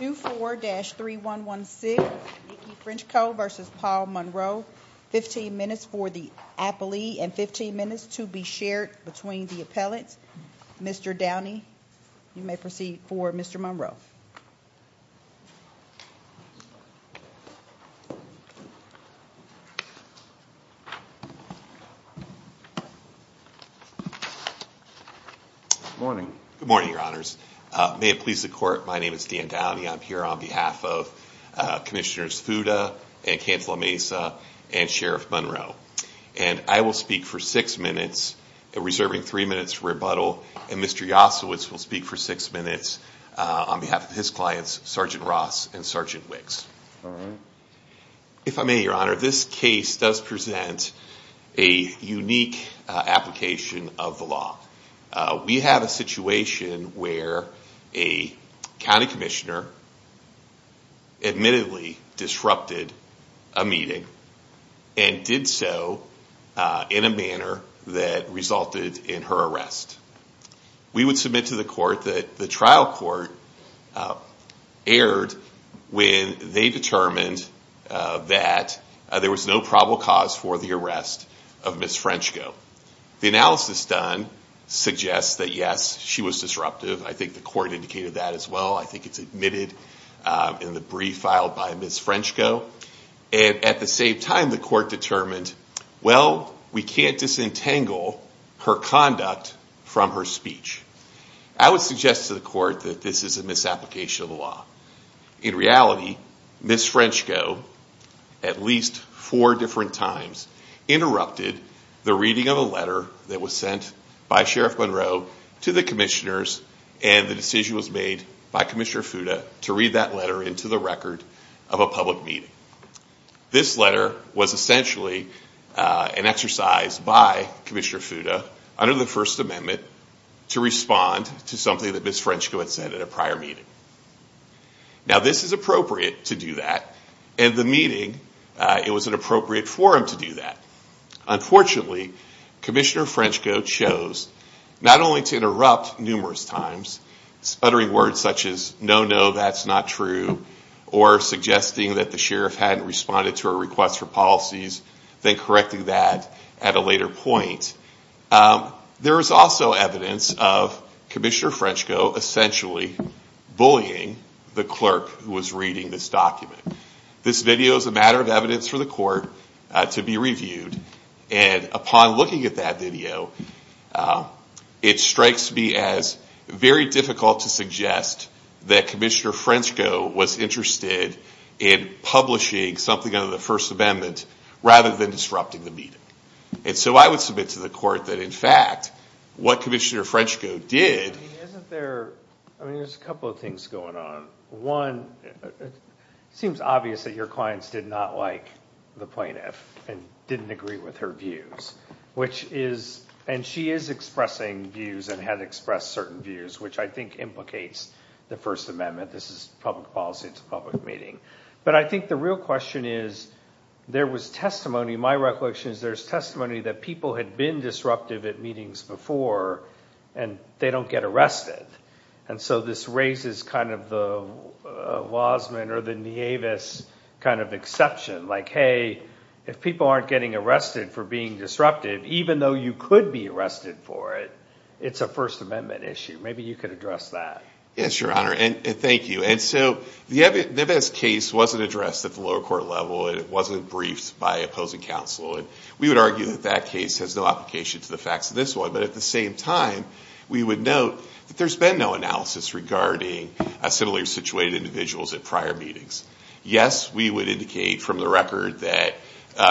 2-4-3116, Niki Frenchko v. Paul Monroe. 15 minutes for the appellee and 15 minutes to be shared between the appellants. Mr. Downey, you may proceed for Mr. Monroe. Good morning. Good morning, your honors. May it please the court, my name is Dan Downey. I'm here on behalf of Commissioners Fuda and Cantalamesa and Sheriff Monroe. And I will speak for six minutes, reserving three minutes for Mr. Yasowitz will speak for six minutes on behalf of his clients, Sergeant Ross and Sergeant Wicks. If I may, your honor, this case does present a unique application of the law. We have a situation where a county commissioner admittedly disrupted a meeting and did so in a manner that resulted in her arrest. We would submit to the court that the trial court erred when they determined that there was no probable cause for the arrest of Ms. Frenchko. The analysis done suggests that, yes, she was disruptive. I think the court indicated that as well. I think it's admitted in the brief filed by Ms. Frenchko. And at the same time, the court determined, well, we can't disentangle her conduct from her speech. I would suggest to the court that this is a misapplication of the law. In reality, Ms. Frenchko, at least four different times, interrupted the reading of a letter that was sent by Sheriff Monroe to the commissioners and the decision was made by Commissioner Fuda to read that letter into the record of a public meeting. This letter was essentially an exercise by Commissioner Fuda, under the First Amendment, to respond to something that Ms. Frenchko had said at a prior meeting. Now, this is appropriate to do that. At the meeting, it was an appropriate forum to do that. Unfortunately, Commissioner Frenchko chose not only to interrupt numerous times, uttering words such as, no, no, that's not true, or suggesting that the sheriff hadn't responded to a request for policies, then correcting that at a later point. There is also evidence of Commissioner Frenchko essentially bullying the clerk who was reading this document. This video is a matter of evidence for the court to be reviewed. And upon looking at that video, it strikes me as very difficult to suggest that Commissioner Frenchko was interested in publishing something under the First Amendment rather than disrupting the meeting. And so I would submit to the court that, in fact, what Commissioner Frenchko did... I mean, there's a couple of things going on. One, it seems obvious that your clients did not like the plaintiff and didn't agree with her views, which is, and she is expressing views and had expressed certain views, which I think implicates the First Amendment. This is public policy, it's a public meeting. But I think the real question is, there was testimony, my recollection is there's testimony that people had been disruptive at meetings before, and they don't get arrested. And so this raises kind of the Wasman or the Nieves kind of exception. Like, hey, if people aren't getting arrested for being disruptive, even though you could be arrested for it, it's a First Amendment issue. Maybe you could address that. Yes, Your Honor, and thank you. And so the Nieves case wasn't addressed at the lower court level, and it wasn't briefed by opposing counsel, and we would argue that that case has no application to the facts of this one. But at the same time, we would note that there's been no analysis regarding similarly situated individuals at prior meetings. Yes, we would indicate from the record that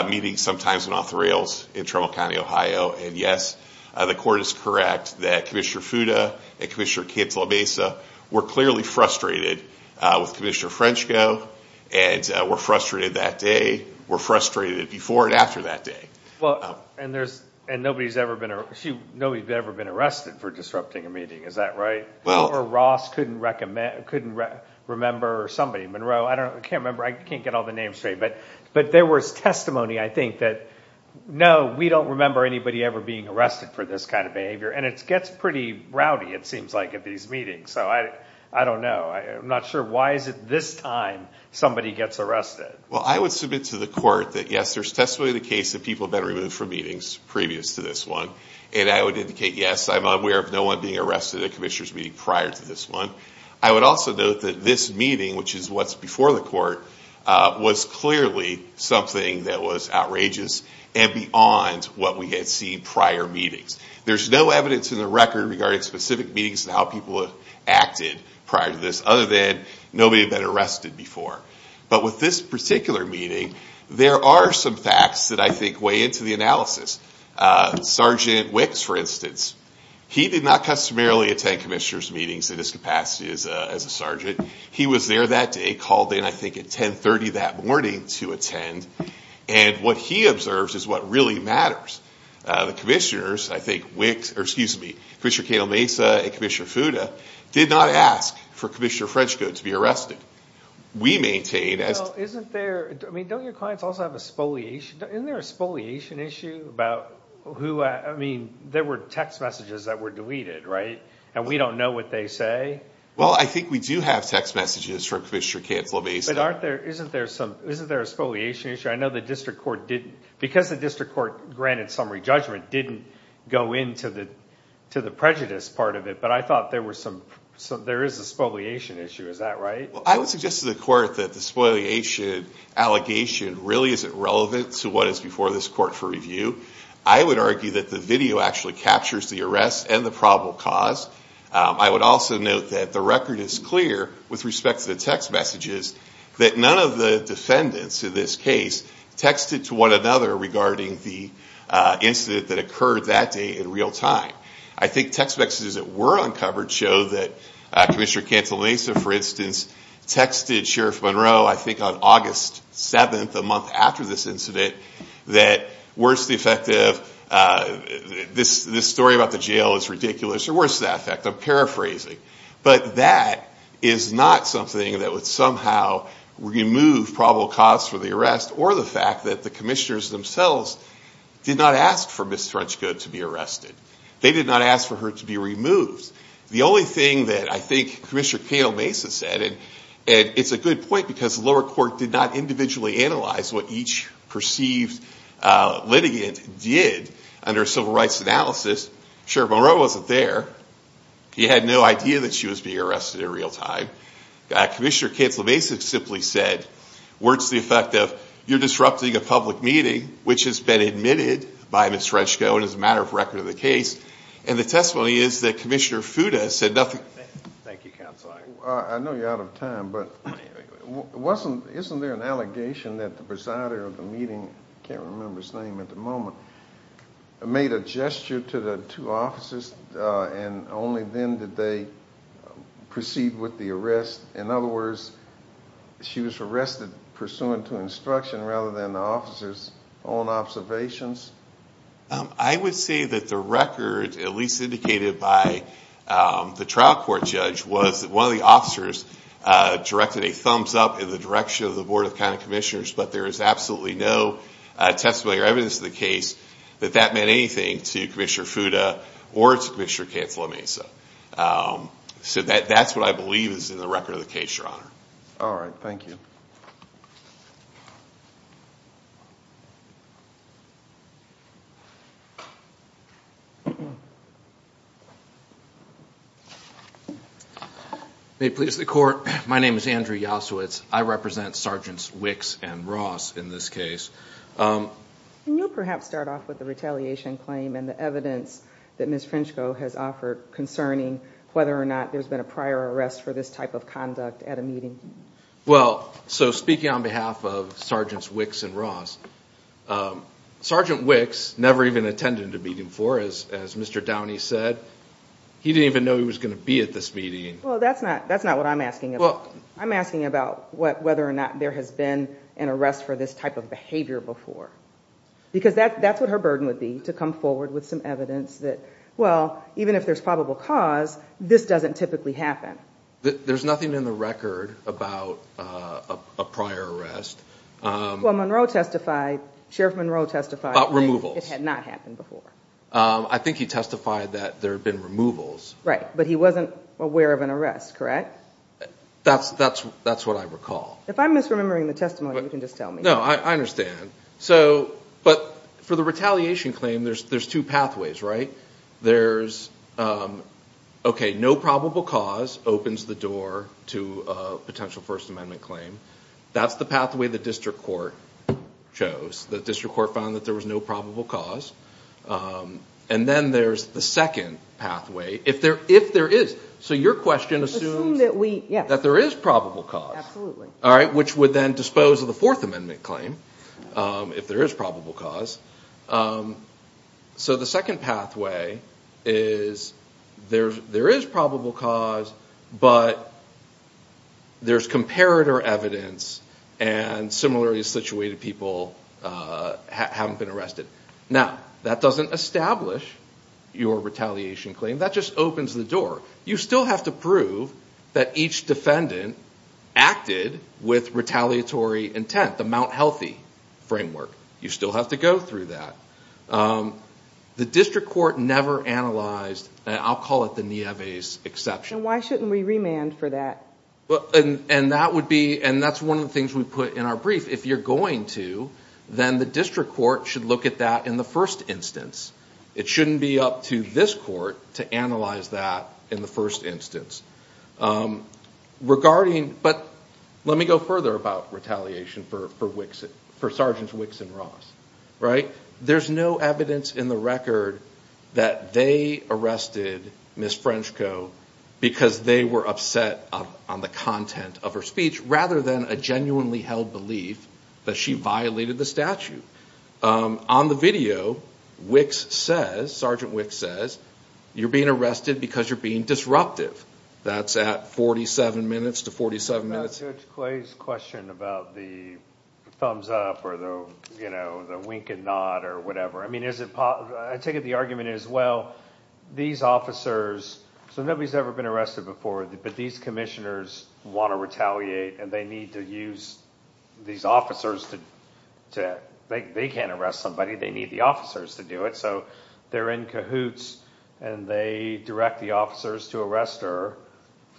meetings sometimes went off the rails in Trammell County, Ohio. And yes, the court is correct that Commissioner Fuda and Commissioner Cantalabesa were clearly frustrated with Commissioner Frenchko, and were frustrated that day, were frustrated before and after that day. Well, and there's, and nobody's ever been, nobody's ever been arrested for disrupting a meeting, is that right? Well, or Ross couldn't remember, or somebody, Monroe, I don't, I can't remember, I can't get all the names straight, but, but there was testimony, I think, that no, we don't remember anybody ever being arrested for this kind of behavior. And it gets pretty rowdy, it seems like, at these meetings. So I, I don't know, I'm not sure why is it this time somebody gets arrested? Well, I would submit to the court that yes, there's testimony of the case that people have been removed from meetings previous to this one, and I would indicate yes, I'm aware of no one being arrested at Commissioner's meeting prior to this one. I would also note that this meeting, which is what's before the court, was clearly something that was outrageous and beyond what we had seen prior meetings. There's no evidence in the record regarding specific meetings and how people have acted prior to this, other than nobody had been arrested before. But with this particular meeting, there are some facts that I think weigh into the analysis. Sergeant Wicks, for instance, he did not customarily attend Commissioner's meetings in his capacity as a sergeant. He was there that day, called in I think at 1030 that morning to attend, and what he observes is what really matters. The commissioners, I think Wicks, or excuse me, Commissioner Cato Mesa and Commissioner Fuda, did not ask for Commissioner Fresco to be arrested. We maintain, as... Well, isn't there, I mean, don't your clients also have a spoliation, isn't there a spoliation issue about who, I mean, there were text messages that were deleted, right? And we don't know what they say. Well, I think we do have text messages from Commissioner Cato Mesa. But aren't there, isn't there some, isn't there a spoliation issue? I know the district court didn't, because the district court granted summary judgment, didn't go into the, to the prejudice part of it, but I thought there were some, so there is a spoliation issue, is that right? I would suggest to the court that the spoliation allegation really isn't relevant to what is before this court for review. I would argue that the video actually captures the arrest and the probable cause. I would also note that the record is clear with respect to the text messages that none of the defendants in this case texted to one another regarding the incident that occurred that day in real time. I think text messages that were uncovered show that Commissioner Cato Mesa, for instance, texted Sheriff Monroe, I think on August 7th, a month after this incident, that, worse the effect of, this story about the jail is ridiculous, or worse the effect, I'm paraphrasing. But that is not something that would somehow remove probable cause for the arrest, or the fact that the commissioners themselves did not ask for Ms. Trunchko to be arrested. They did not ask for her to be removed. The only thing that I think Commissioner Cato Mesa said, and it's a good point because the lower court did not individually analyze what each perceived litigant did under civil rights analysis. Sheriff Monroe wasn't there. He had no idea that she was being arrested in real time. Commissioner Cato Mesa simply said, worse the effect of, you're disrupting a public meeting which has been admitted by Ms. Trunchko and is a matter of record of the case. And the testimony is that Commissioner Fuda said nothing. I know you're out of the meeting. I can't remember his name at the moment. Made a gesture to the two officers and only then did they proceed with the arrest. In other words, she was arrested pursuant to instruction rather than the officers own observations? I would say that the record, at least indicated by the trial court judge, was that one of the officers directed a thumbs up in the direction of the Board of County Commissioners, but there is absolutely no testimony or evidence of the case that that meant anything to Commissioner Fuda or to Commissioner Cato Mesa. So that's what I believe is in the record of the case, Your Honor. All right, thank you. May it please the Court, my name is Andrew Yasowitz. I represent Sergeants Wicks and Ross in this case. Can you perhaps start off with the retaliation claim and the evidence that Ms. Trunchko has offered concerning whether or not there's been a prior arrest for this type of conduct at a meeting? Well, so speaking on behalf of Sergeants Wicks and Ross, Sergeant Wicks never even attended a meeting before, as Mr. Downey said. He didn't even know he was going to be at this meeting. Well, that's not what I'm asking. I'm asking about whether or not there has been an arrest for this type of behavior before, because that's what her burden would be, to come forward with some evidence that, well, even if there's probable cause, this doesn't typically happen. There's nothing in the record about a prior arrest. Well, Monroe testified, Sheriff Monroe testified... About removals. It had not happened before. I think he testified that there have been removals. Right, but he wasn't aware of an arrest, correct? That's what I recall. If I'm misremembering the testimony, you can just tell me. No, I understand. So, but for the retaliation claim, there's two pathways, right? There's, okay, no probable cause opens the door to a potential First Amendment claim. That's the pathway the district court chose. The district court found that there was no probable cause, and then there's the second pathway. If there is, so your question assumes that there is probable cause, all right, which would then dispose of the Fourth Amendment claim, if there is probable cause. So the second pathway is there is probable cause, but there's comparator evidence, and similarly situated people haven't been arrested. Now, that doesn't establish your retaliation claim. That just opens the door. You still have to prove that each defendant acted with retaliatory intent, the Mount Healthy framework. You still have to go through that. The district court never analyzed, and I'll call it the Nieves exception. Why shouldn't we remand for that? Well, and that would be, and that's one of the things we put in our brief. If you're going to, then the district court should look at that in the first instance. It shouldn't be up to this court to analyze that in the first instance for Sargent Wicks and Ross, right? There's no evidence in the record that they arrested Ms. Frenchco because they were upset on the content of her speech, rather than a genuinely held belief that she violated the statute. On the video, Wicks says, Sargent Wicks says, you're being arrested because you're being disruptive. That's at 47 minutes to 47 minutes. To Clay's question about the thumbs up or the, you know, the wink and nod or whatever. I mean, I take it the argument is, well, these officers, so nobody's ever been arrested before, but these commissioners want to retaliate and they need to use these officers to, they can't arrest somebody, they need the officers to do it. So they're in cahoots and they direct the officers to arrest her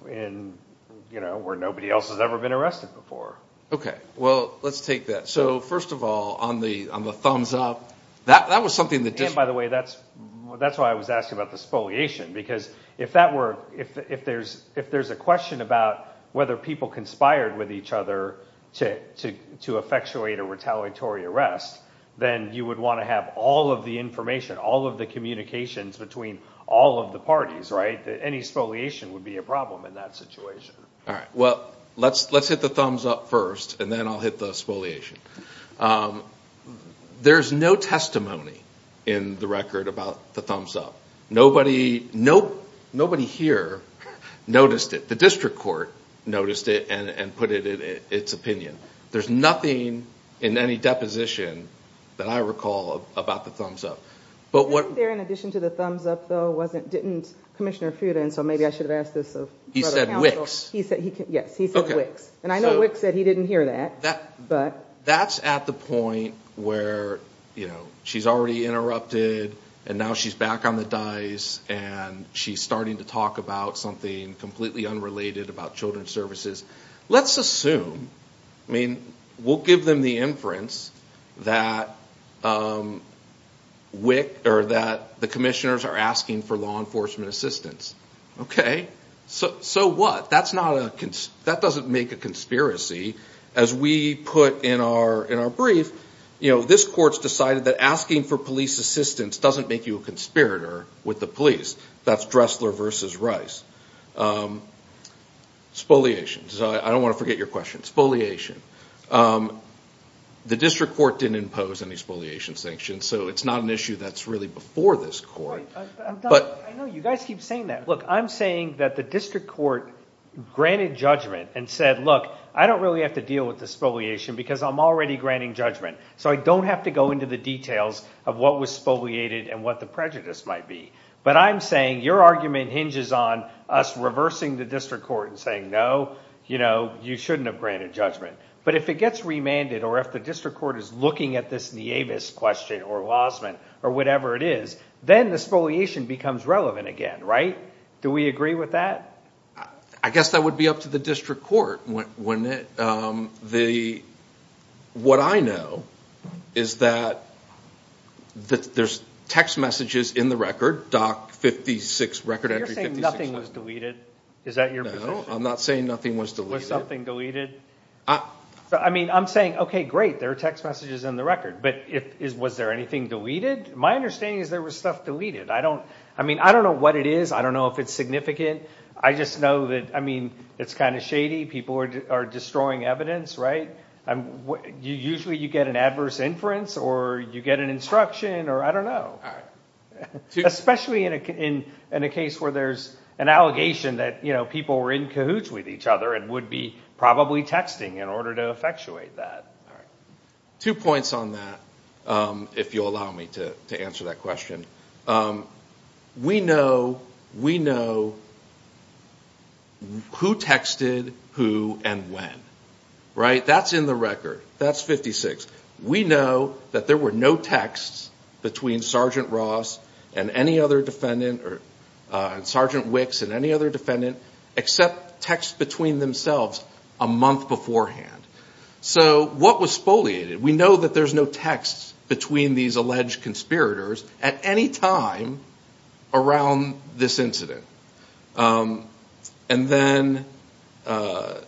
where nobody else has ever been arrested before. Okay, well, let's take that. So, first of all, on the thumbs up, that was something that just... By the way, that's why I was asking about the spoliation, because if that were, if there's a question about whether people conspired with each other to effectuate a retaliatory arrest, then you would want to have all of the information, all of the communications between all of the parties, right? Any spoliation would be a problem in that situation. All right, well, let's hit the thumbs up first and then I'll hit the spoliation. There's no testimony in the record about the thumbs up. Nobody here noticed it. The district court noticed it and put it in its opinion. There's nothing in any deposition that I recall about the thumbs up. But what... The question to the thumbs up, though, wasn't, didn't Commissioner Futa, and so maybe I should have asked this of... He said Wicks. Yes, he said Wicks. And I know Wicks said he didn't hear that. That's at the point where, you know, she's already interrupted and now she's back on the dice and she's starting to talk about something completely unrelated about children's services. Let's assume, I mean, we'll give them the inference that the commissioners are asking for law enforcement assistance. Okay, so what? That's not a... That doesn't make a conspiracy. As we put in our brief, you know, this court's decided that asking for police assistance doesn't make you a conspirator with the police. That's Dressler versus Rice. Spoliation. I don't want to forget your question. Spoliation. The district court didn't impose any spoliation sanctions, so it's not an issue that's really before this court. I know you guys keep saying that. Look, I'm saying that the district court granted judgment and said, look, I don't really have to deal with the spoliation because I'm already granting judgment. So I don't have to go into the details of what was spoliated and what the prejudice might be. But I'm saying your argument hinges on us shouldn't have granted judgment. But if it gets remanded, or if the district court is looking at this Nieves question, or Wassman, or whatever it is, then the spoliation becomes relevant again, right? Do we agree with that? I guess that would be up to the district court. What I know is that there's text messages in the record, Doc 56, record entry 56. You're saying nothing was deleted? Is that your position? I'm not saying nothing was deleted. I mean, I'm saying, okay, great, there are text messages in the record, but was there anything deleted? My understanding is there was stuff deleted. I mean, I don't know what it is. I don't know if it's significant. I just know that, I mean, it's kind of shady. People are destroying evidence, right? Usually you get an adverse inference, or you get an instruction, or I don't know. Especially in a case where there's an allegation that people were in cahoots with each other and would be probably texting in order to effectuate that. Two points on that, if you'll allow me to answer that question. We know who texted who and when, right? That's in the record. That's 56. We know that there were no texts between Sergeant Ross and any other defendant, or Sergeant Wicks and any other defendant, except texts between themselves a month beforehand. So what was spoliated? We know that there's no texts between these alleged conspirators at any time around this incident. And then they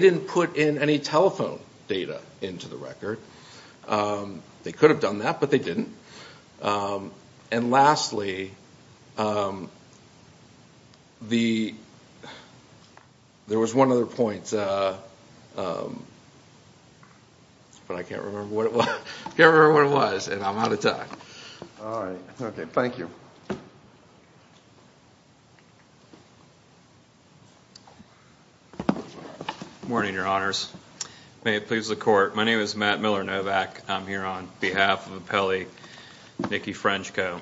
didn't put in any telephone data into the record. They could have done that, but they didn't. And lastly, there was one other point, but I can't remember what it was. I can't remember what it was, and I'm out of time. All right. Okay, thank you. Morning, Your Honors. May it please the Court, my name is Matt Miller-Novak. I'm here on behalf of appellee Nikki Frenchko.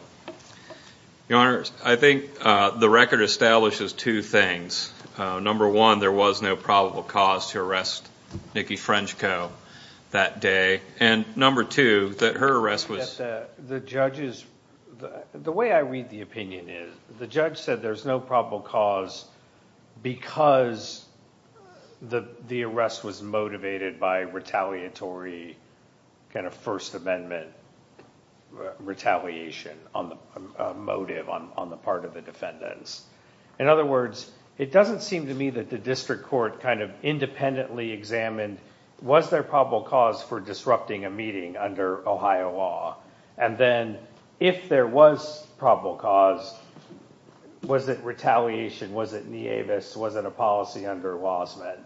Your Honors, I think the record establishes two things. Number one, there was no probable cause to arrest Nikki Frenchko that day, and number two, that her arrest was- The way I read the opinion is, the judge said there's no probable cause because the arrest was motivated by retaliatory, kind of First Amendment retaliation motive on the part of the defendants. In other words, it doesn't seem to me that the district court kind of independently examined, was there probable cause for disrupting a meeting under Ohio law? And then, if there was probable cause, was it retaliation? Was it nievis? Was it a policy under Wassmann?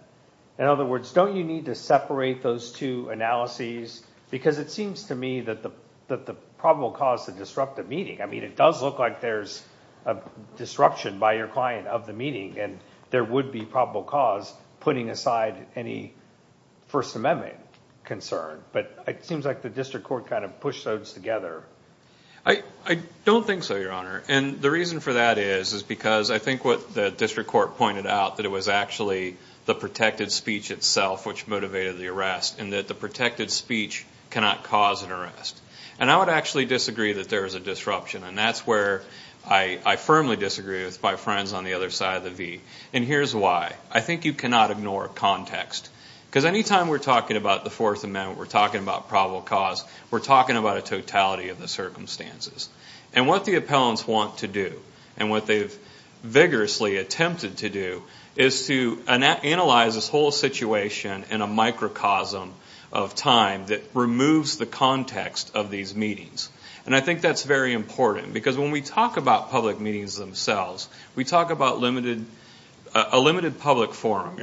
In other words, don't you need to separate those two analyses? Because it seems to me that the probable cause to disrupt a meeting, I mean, it does look like there's a disruption by your client of the meeting, and there would be probable cause putting aside any First Amendment concern, but it seems like the district court kind of pushed those together. I don't think so, Your Honor, and the reason for that is, is because I think what the district court pointed out, that it was actually the protected speech itself which motivated the arrest, and that the protected speech cannot cause an arrest. And I would actually disagree that there is a disruption, and that's where I firmly disagree with my friends on the other side of the V. And here's why. I think you cannot ignore context. Because anytime we're talking about the Fourth Amendment, we're talking about probable cause, we're talking about a totality of the circumstances. And what the appellants want to do, and what they've vigorously attempted to do, is to analyze this whole situation in a microcosm of time that removes the context of these meetings. And I think that's very important, because when we talk about public meetings themselves, we talk about limited, a limited public forum.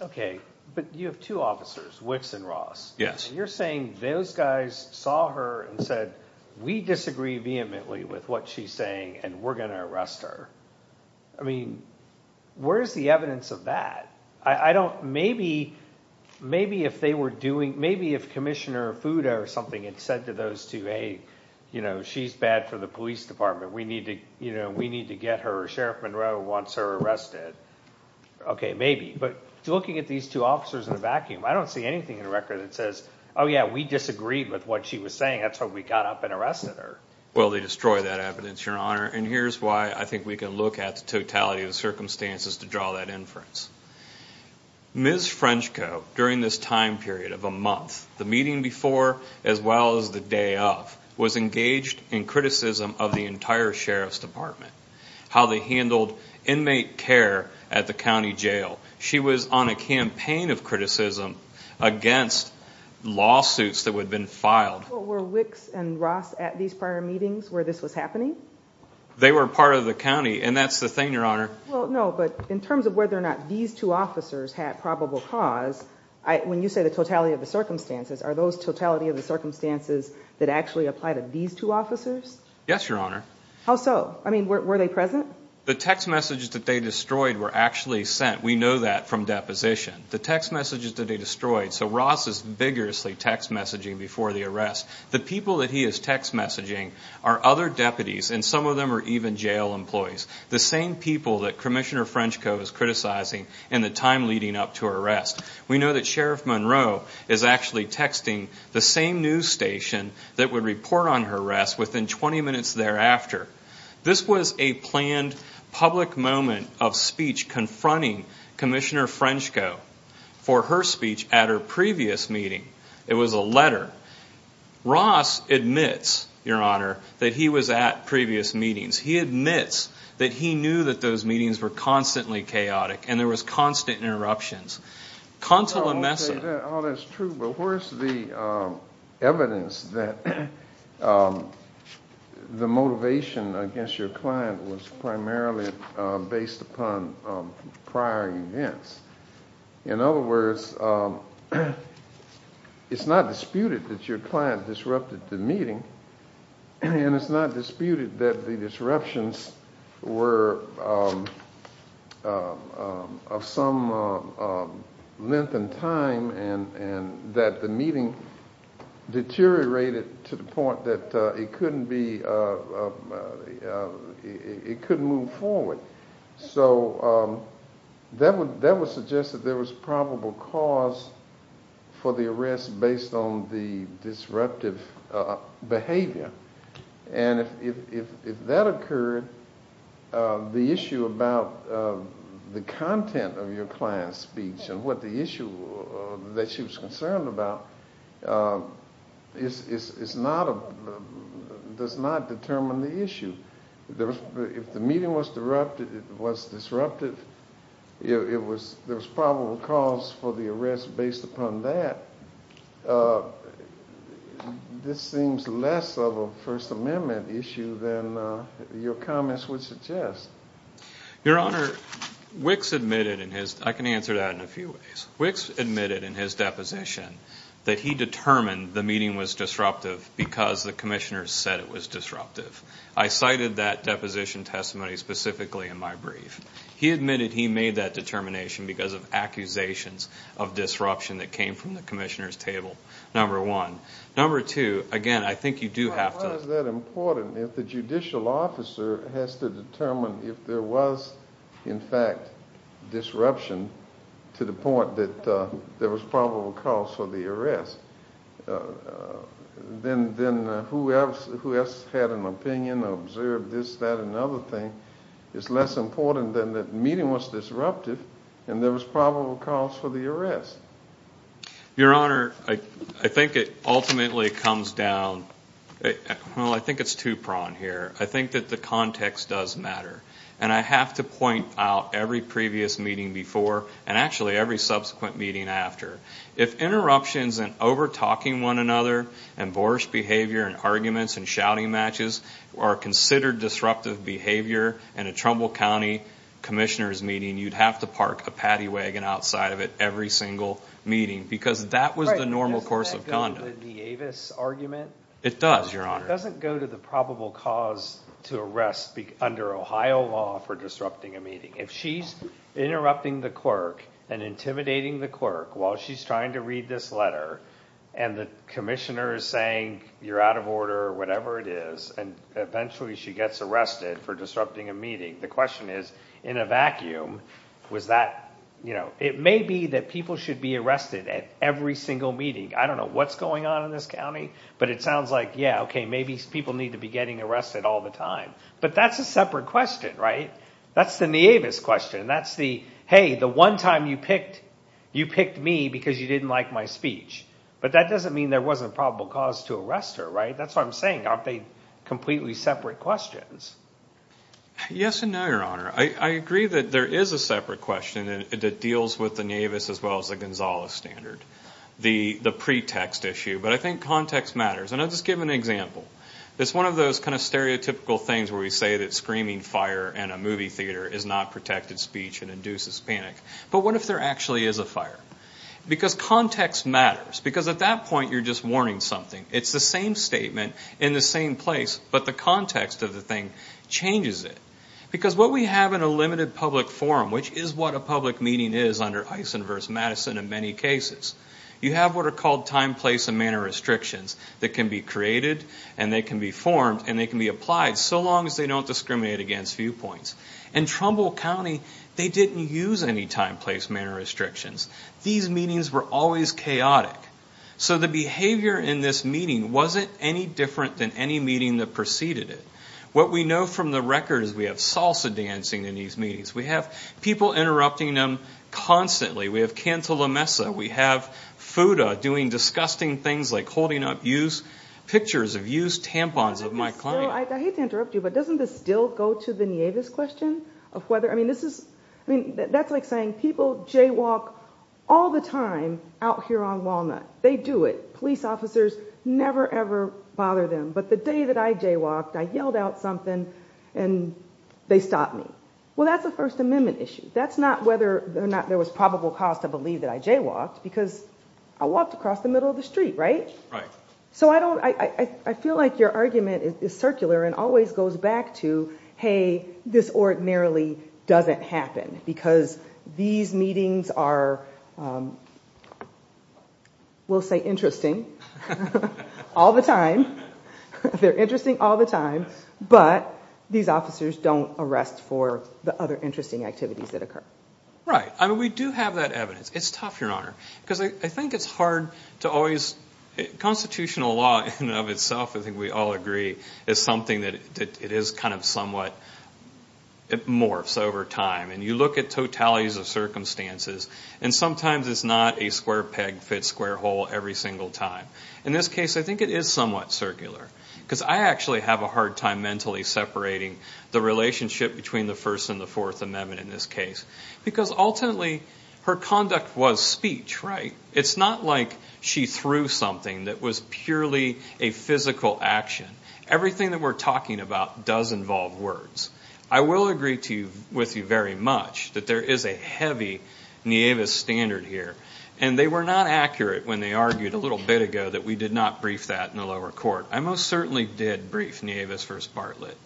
Okay, but you have two officers, Wicks and Ross. Yes. You're saying those guys saw her and said, we disagree vehemently with what she's saying, and we're going to arrest her. I mean, where's the evidence of that? I don't, maybe, maybe if they were doing, maybe if Commissioner Fudo or something had said to those two, hey, you know, she's bad for the police department. We need to, you know, we need to get her. Sheriff Monroe wants her arrested. Okay, maybe. But looking at these two officers in a vacuum, I don't see anything in the record that says, oh yeah, we disagreed with what she was saying. That's why we got up and arrested her. Well, they destroy that evidence, Your Honor. And here's why I think we can look at the totality of the circumstances to draw that inference. Ms. Frenchko, during this time period of a month, the meeting before as well as the day of, was engaged in criticism of the entire Sheriff's Department, how they handled inmate care at the county jail. She was on a campaign of criticism against lawsuits that had been filed. Were Wicks and Ross at these prior meetings where this was happening? They were part of the county, and that's the thing, Your Honor. Well, no, but in terms of whether or not these two officers had probable cause, when you say the totality of the circumstances, are those totality of the circumstances that actually apply to these two officers? Yes, Your Honor. How so? I mean, were they present? The text messages that they destroyed were actually sent. We know that from deposition. The text messages that they destroyed. So Ross is vigorously text messaging before the arrest. The people that he is text messaging are other deputies, and some of them are even jail employees. The same people that Commissioner Frenchko is criticizing in the time leading up to her arrest. We know that Sheriff Monroe is actually texting the same news station that would report on her arrest within 20 minutes thereafter. This was a planned public moment of speech confronting Commissioner Frenchko for her speech at her previous meeting. It was a letter. Ross admits, Your Honor, that he was at previous meetings. He admits that he knew that those meetings were constantly chaotic, and there was constant interruptions. I won't say that all is true, but where's the evidence that the motivation against your client was primarily based upon prior events? In other words, it's not disputed that your client disrupted the meeting, and it's not disputed that the disruptions were of some length and time, and that the meeting deteriorated to the point that it couldn't move forward. So that would suggest that there was a probable cause for the arrest based on the disruptive behavior, and if that occurred, the issue about the content of your client's speech and what the issue that she was concerned about does not determine the issue. If the meeting was disruptive, there was probable cause for the arrest based upon that. This seems less of a First Amendment issue than your comments would suggest. Your Honor, Wicks admitted in his, I can answer that in a few ways, Wicks admitted in his deposition that he determined the meeting was disruptive because the Commissioner said it was disruptive. I cited that deposition testimony specifically in my brief. He admitted he made that determination because of accusations of disruption that came from the Commissioner's table, number one. Number two, again, I think you do have to... Well, why is that important if the judicial officer has to determine if there was, in fact, disruption to the point that there was probable cause for the arrest? Then who else had an opinion or observed this, that, and the other thing? It's less important than the meeting was disruptive and there was probable cause for the arrest. Your Honor, I think it ultimately comes down... Well, I think it's two-pronged here. I think that the context does matter, and I have to point out every previous meeting before and actually every subsequent meeting after. If interruptions and over-talking one another and boorish behavior and arguments and shouting matches are considered disruptive behavior in a Trumbull County Commissioner's meeting, you'd have to park a paddy wagon outside of it every single meeting because that was the normal course of conduct. Does that go with the Avis argument? It does, Your Honor. It doesn't go to the probable cause to arrest under Ohio law for disrupting a meeting. If she's interrupting the clerk and intimidating the clerk while she's trying to read this letter and the Commissioner is saying, you're out of order, or whatever it is, and eventually she gets arrested for disrupting a meeting, the question is, in a vacuum, was that... It may be that people should be arrested at every single meeting. I don't know what's going on in this county, but it sounds like, yeah, okay, maybe people need to be getting arrested all the time. But that's a separate question, right? That's the Nieves question. That's the, hey, the one time you picked me because you didn't like my speech. But that doesn't mean there wasn't a probable cause to arrest her, right? That's what I'm saying. Aren't they completely separate questions? Yes and no, Your Honor. I agree that there is a separate question that deals with the Nieves as well as the Gonzales standard. The pretext issue. But I think context matters. And I'll just give an example. It's one of those kind of stereotypical things where we say that screaming fire in a movie because context matters. Because at that point, you're just warning something. It's the same statement in the same place, but the context of the thing changes it. Because what we have in a limited public forum, which is what a public meeting is under Eisen versus Madison in many cases, you have what are called time, place, and manner restrictions that can be created, and they can be formed, and they can be applied so long as they don't discriminate against viewpoints. In Trumbull County, they didn't use any time, place, manner restrictions. These meetings were always chaotic. So the behavior in this meeting wasn't any different than any meeting that preceded it. What we know from the record is we have salsa dancing in these meetings. We have people interrupting them constantly. We have Canto La Mesa. We have FUDA doing disgusting things like holding up used pictures of used tampons of my client. I hate to interrupt you, but doesn't this still go to the Nieves question of whether, I mean, this is, I mean, that's like saying people jaywalk all the time out here on Walnut. They do it. Police officers never, ever bother them. But the day that I jaywalked, I yelled out something, and they stopped me. Well, that's a First Amendment issue. That's not whether or not there was probable cause to believe that I jaywalked, because I walked across the middle of the street, right? Right. So I don't, I feel like your argument is circular and always goes back to, hey, this ordinarily doesn't happen, because these meetings are, we'll say interesting all the time. They're interesting all the time, but these officers don't arrest for the other interesting activities that occur. Right. I mean, we do have that evidence. It's tough, Your Honor, because I think it's hard to always, constitutional law in and of itself, I think we all agree, is something that it is kind of somewhat, it morphs over time. And you look at totalities of circumstances, and sometimes it's not a square peg fits square hole every single time. In this case, I think it is somewhat circular, because I actually have a hard time mentally separating the relationship between the First and the Fourth Amendment in this case, because ultimately, her conduct was speech, right? It's not like she threw something that was purely a physical action. Everything that we're talking about does involve words. I will agree to you, with you very much, that there is a heavy Nieves standard here. And they were not accurate when they argued a little bit ago that we did not brief that in the lower court. I most certainly did brief Nieves v. Bartlett.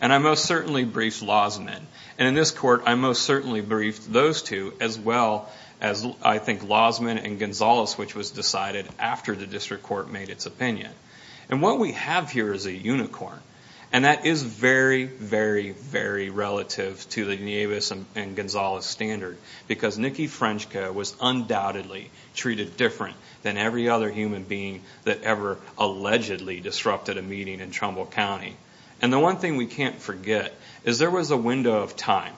And I most certainly briefed Lozman. And in this court, I most certainly briefed those two, as well as, I think, Lozman and Gonzales, which was decided after the And what we have here is a unicorn. And that is very, very, very relative to the Nieves and Gonzales standard, because Nikki Frenchka was undoubtedly treated different than every other human being that ever allegedly disrupted a meeting in Trumbull County. And the one thing we can't forget is there was a window of time.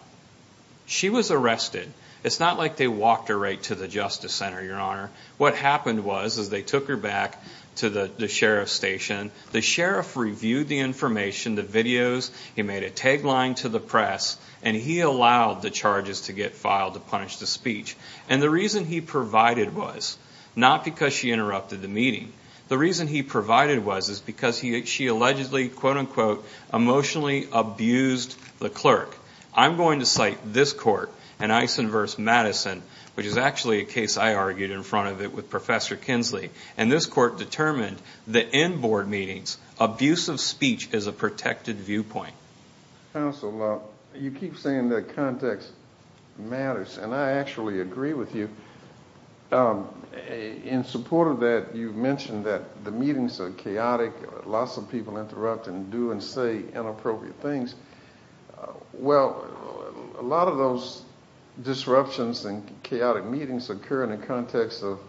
She was arrested. It's not like they walked her to the Justice Center, Your Honor. What happened was they took her back to the sheriff's station. The sheriff reviewed the information, the videos. He made a tagline to the press. And he allowed the charges to get filed to punish the speech. And the reason he provided was not because she interrupted the meeting. The reason he provided was because she allegedly, quote, unquote, emotionally abused the clerk. I'm going to cite this court in Eisen v. Madison, which is actually a case I argued in front of it with Professor Kinsley. And this court determined that in board meetings, abusive speech is a protected viewpoint. Counsel, you keep saying that context matters. And I actually agree with you. In support of that, you mentioned that the meetings are chaotic. Lots of people interrupt and do and say inappropriate things. Well, a lot of those disruptions and chaotic meetings occur in the context of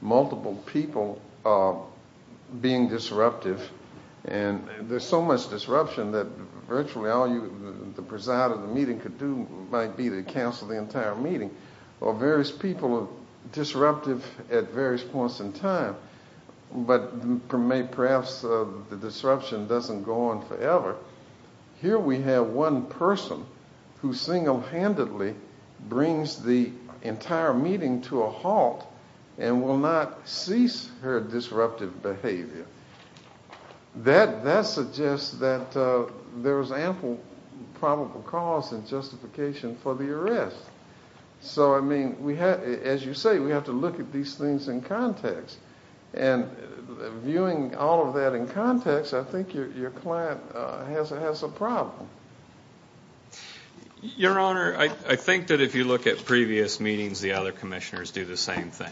multiple people being disruptive. And there's so much disruption that virtually all the preside of the meeting could do might be to cancel the entire meeting. Or various people are disruptive at various points in time. But perhaps the disruption doesn't go on forever. Here we have one person who single-handedly brings the entire meeting to a halt and will not cease her disruptive behavior. That suggests that there was ample probable cause and justification for the arrest. So, I mean, as you say, we have to look at these things in context. And viewing all of that in context, I think your client has a problem. Your Honor, I think that if you look at previous meetings, the other commissioners do the same thing.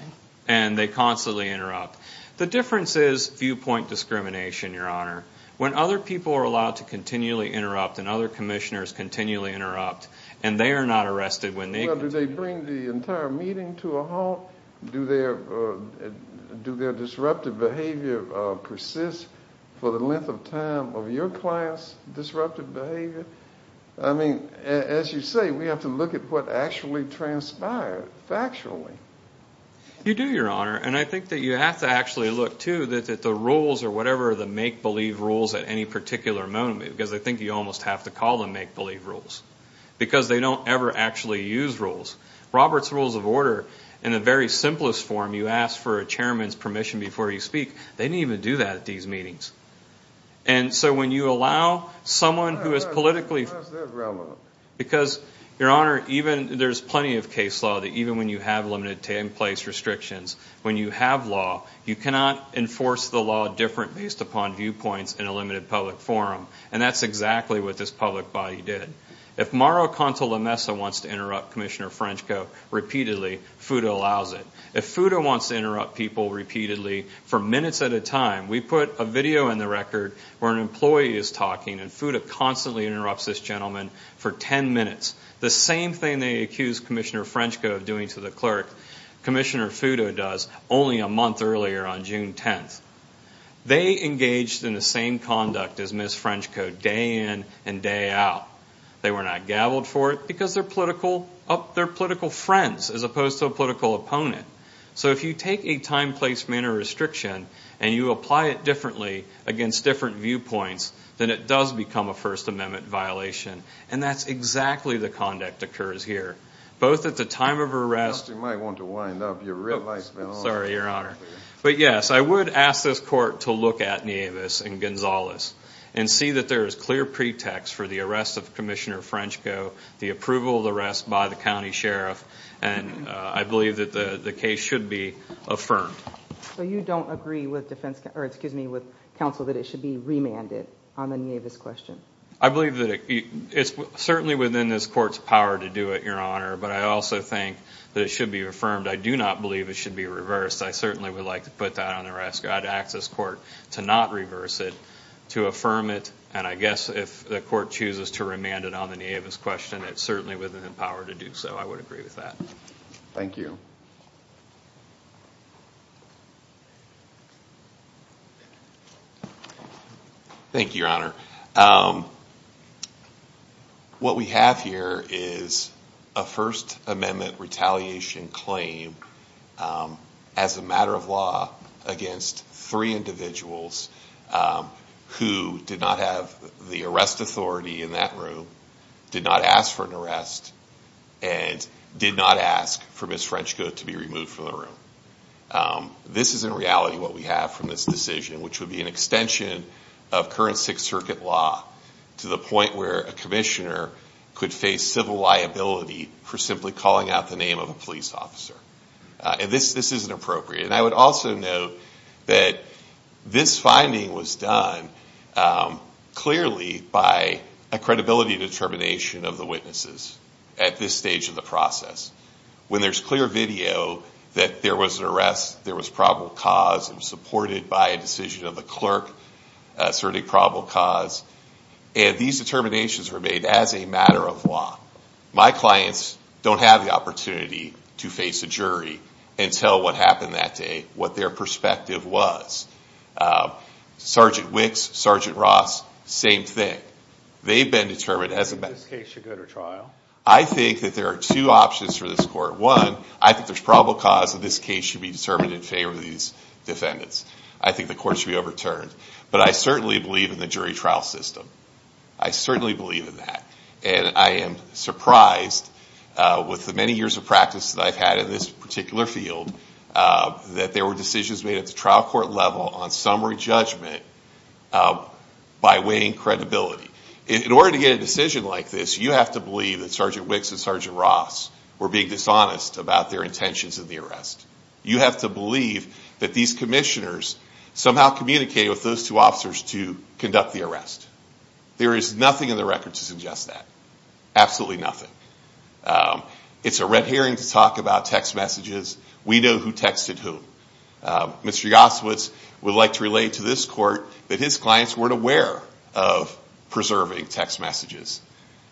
And they constantly interrupt. The difference is viewpoint discrimination, Your Honor. When other people are allowed to continually interrupt and other commissioners continually interrupt. And they are not arrested when they... Well, do they bring the entire meeting to a halt? Do their disruptive behavior persist for the length of time of your client's disruptive behavior? I mean, as you say, we have to look at what actually transpired factually. You do, Your Honor. And I think that you have to actually look, too, that the rules or whatever the make-believe rules at any particular moment, because I think you almost have to make-believe rules. Because they don't ever actually use rules. Robert's Rules of Order, in the very simplest form, you ask for a chairman's permission before you speak. They didn't even do that at these meetings. And so when you allow someone who is politically... Because, Your Honor, even there's plenty of case law that even when you have limited in-place restrictions, when you have law, you cannot enforce the law different based upon viewpoints in a limited public forum. And that's exactly what this public body did. If Mauro Conte-Lomesa wants to interrupt Commissioner Frenchko repeatedly, FUTA allows it. If FUTA wants to interrupt people repeatedly for minutes at a time, we put a video in the record where an employee is talking and FUTA constantly interrupts this gentleman for 10 minutes. The same thing they accused Commissioner Frenchko of doing to the clerk, Commissioner FUTA does only a month earlier on June 10th. They engaged in the same conduct as Ms. Frenchko day in and day out. They were not gaveled for it because they're political friends as opposed to a political opponent. So if you take a time, place, manner restriction and you apply it differently against different viewpoints, then it does become a First Amendment violation. And that's exactly the conduct that occurs here. Both at the time of arrest... You might want to wind up. Your red light's been on. Sorry, Your Honor. But yes, I would ask this court to look at Nieves and Gonzalez and see that there is clear pretext for the arrest of Commissioner Frenchko, the approval of the arrest by the county sheriff, and I believe that the case should be affirmed. So you don't agree with counsel that it should be remanded on the Nieves question? I believe that it's certainly within this court's power to do it, Your Honor, but I also think that it should be affirmed. I do not believe it should be reversed. I certainly would like to put that on the rescue. I'd ask this court to not reverse it, to affirm it, and I guess if the court chooses to remand it on the Nieves question, it's certainly within the power to do so. I would agree with that. Thank you. Thank you, Your Honor. What we have here is a First Amendment retaliation claim as a matter of law against three individuals who did not have the arrest authority in that room, did not ask for the room. This is in reality what we have from this decision, which would be an extension of current Sixth Circuit law to the point where a commissioner could face civil liability for simply calling out the name of a police officer. This isn't appropriate. I would also note that this finding was done clearly by a credibility determination of the witnesses at this stage of the process. When there's clear video that there was an arrest, there was probable cause, it was supported by a decision of the clerk, certainly probable cause, and these determinations were made as a matter of law. My clients don't have the opportunity to face a jury and tell what happened that day, what their perspective was. Sergeant Wicks, Sergeant Ross, same thing. They've been determined as a matter of law. This case should go to trial. I think that there are two options for this court. One, I think there's probable cause that this case should be determined in favor of these defendants. I think the court should be overturned. But I certainly believe in the jury trial system. I certainly believe in that. And I am surprised with the many years of practice that I've had in this particular field that there were decisions made at the level on summary judgment by weighing credibility. In order to get a decision like this, you have to believe that Sergeant Wicks and Sergeant Ross were being dishonest about their intentions in the arrest. You have to believe that these commissioners somehow communicated with those two officers to conduct the arrest. There is nothing in the record to suggest that. Absolutely nothing. It's a red herring to talk about text messages. We know who texted who. Mr. Goswitz would like to relate to this court that his clients weren't aware of preserving text messages.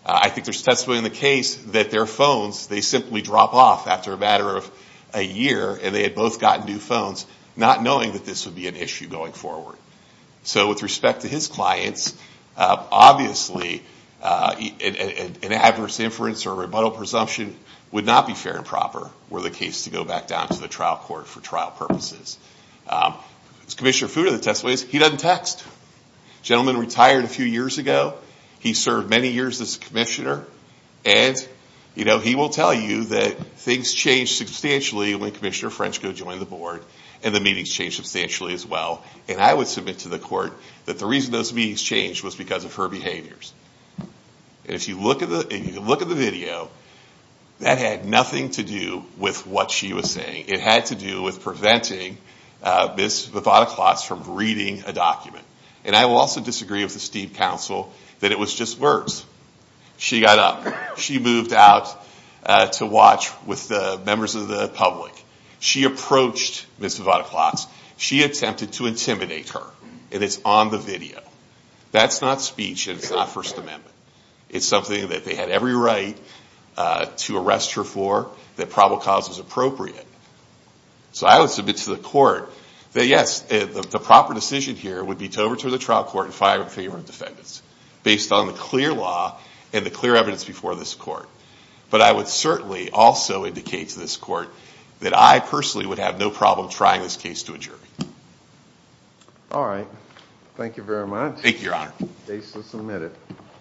I think there's testimony in the case that their phones, they simply drop off after a matter of a year and they had both gotten new phones, not knowing that this would be an issue going forward. So with respect to his clients, obviously an adverse inference or rebuttal presumption would not be fair and proper were the case to go back down to the trial court for trial purposes. As Commissioner Fuda testifies, he doesn't text. Gentleman retired a few years ago. He served many years as commissioner and he will tell you that things changed substantially when Commissioner Frenchco joined the board and the meetings changed substantially as well. I would submit to the court that the reason those meetings changed was because of her behaviors. If you look at the video, that had nothing to do with what she was saying. It had to do with preventing Ms. Vivada-Klotz from reading a document. And I will also disagree with the Steve Council that it was just words. She got up. She moved out to watch with the members of the public. She approached Ms. Vivada-Klotz. She attempted to intimidate her and it's on the video. That's not speech and it's not First Amendment. It's something that they had every right to arrest her for that probable cause was appropriate. So I would submit to the court that yes, the proper decision here would be to overturn the trial court and fire in favor of defendants based on the clear law and the clear evidence before this court. But I would certainly also indicate to this court that I personally would have no problem trying this case to a jury. All right. Thank you very much. Thank you, Your Honor. Case is submitted.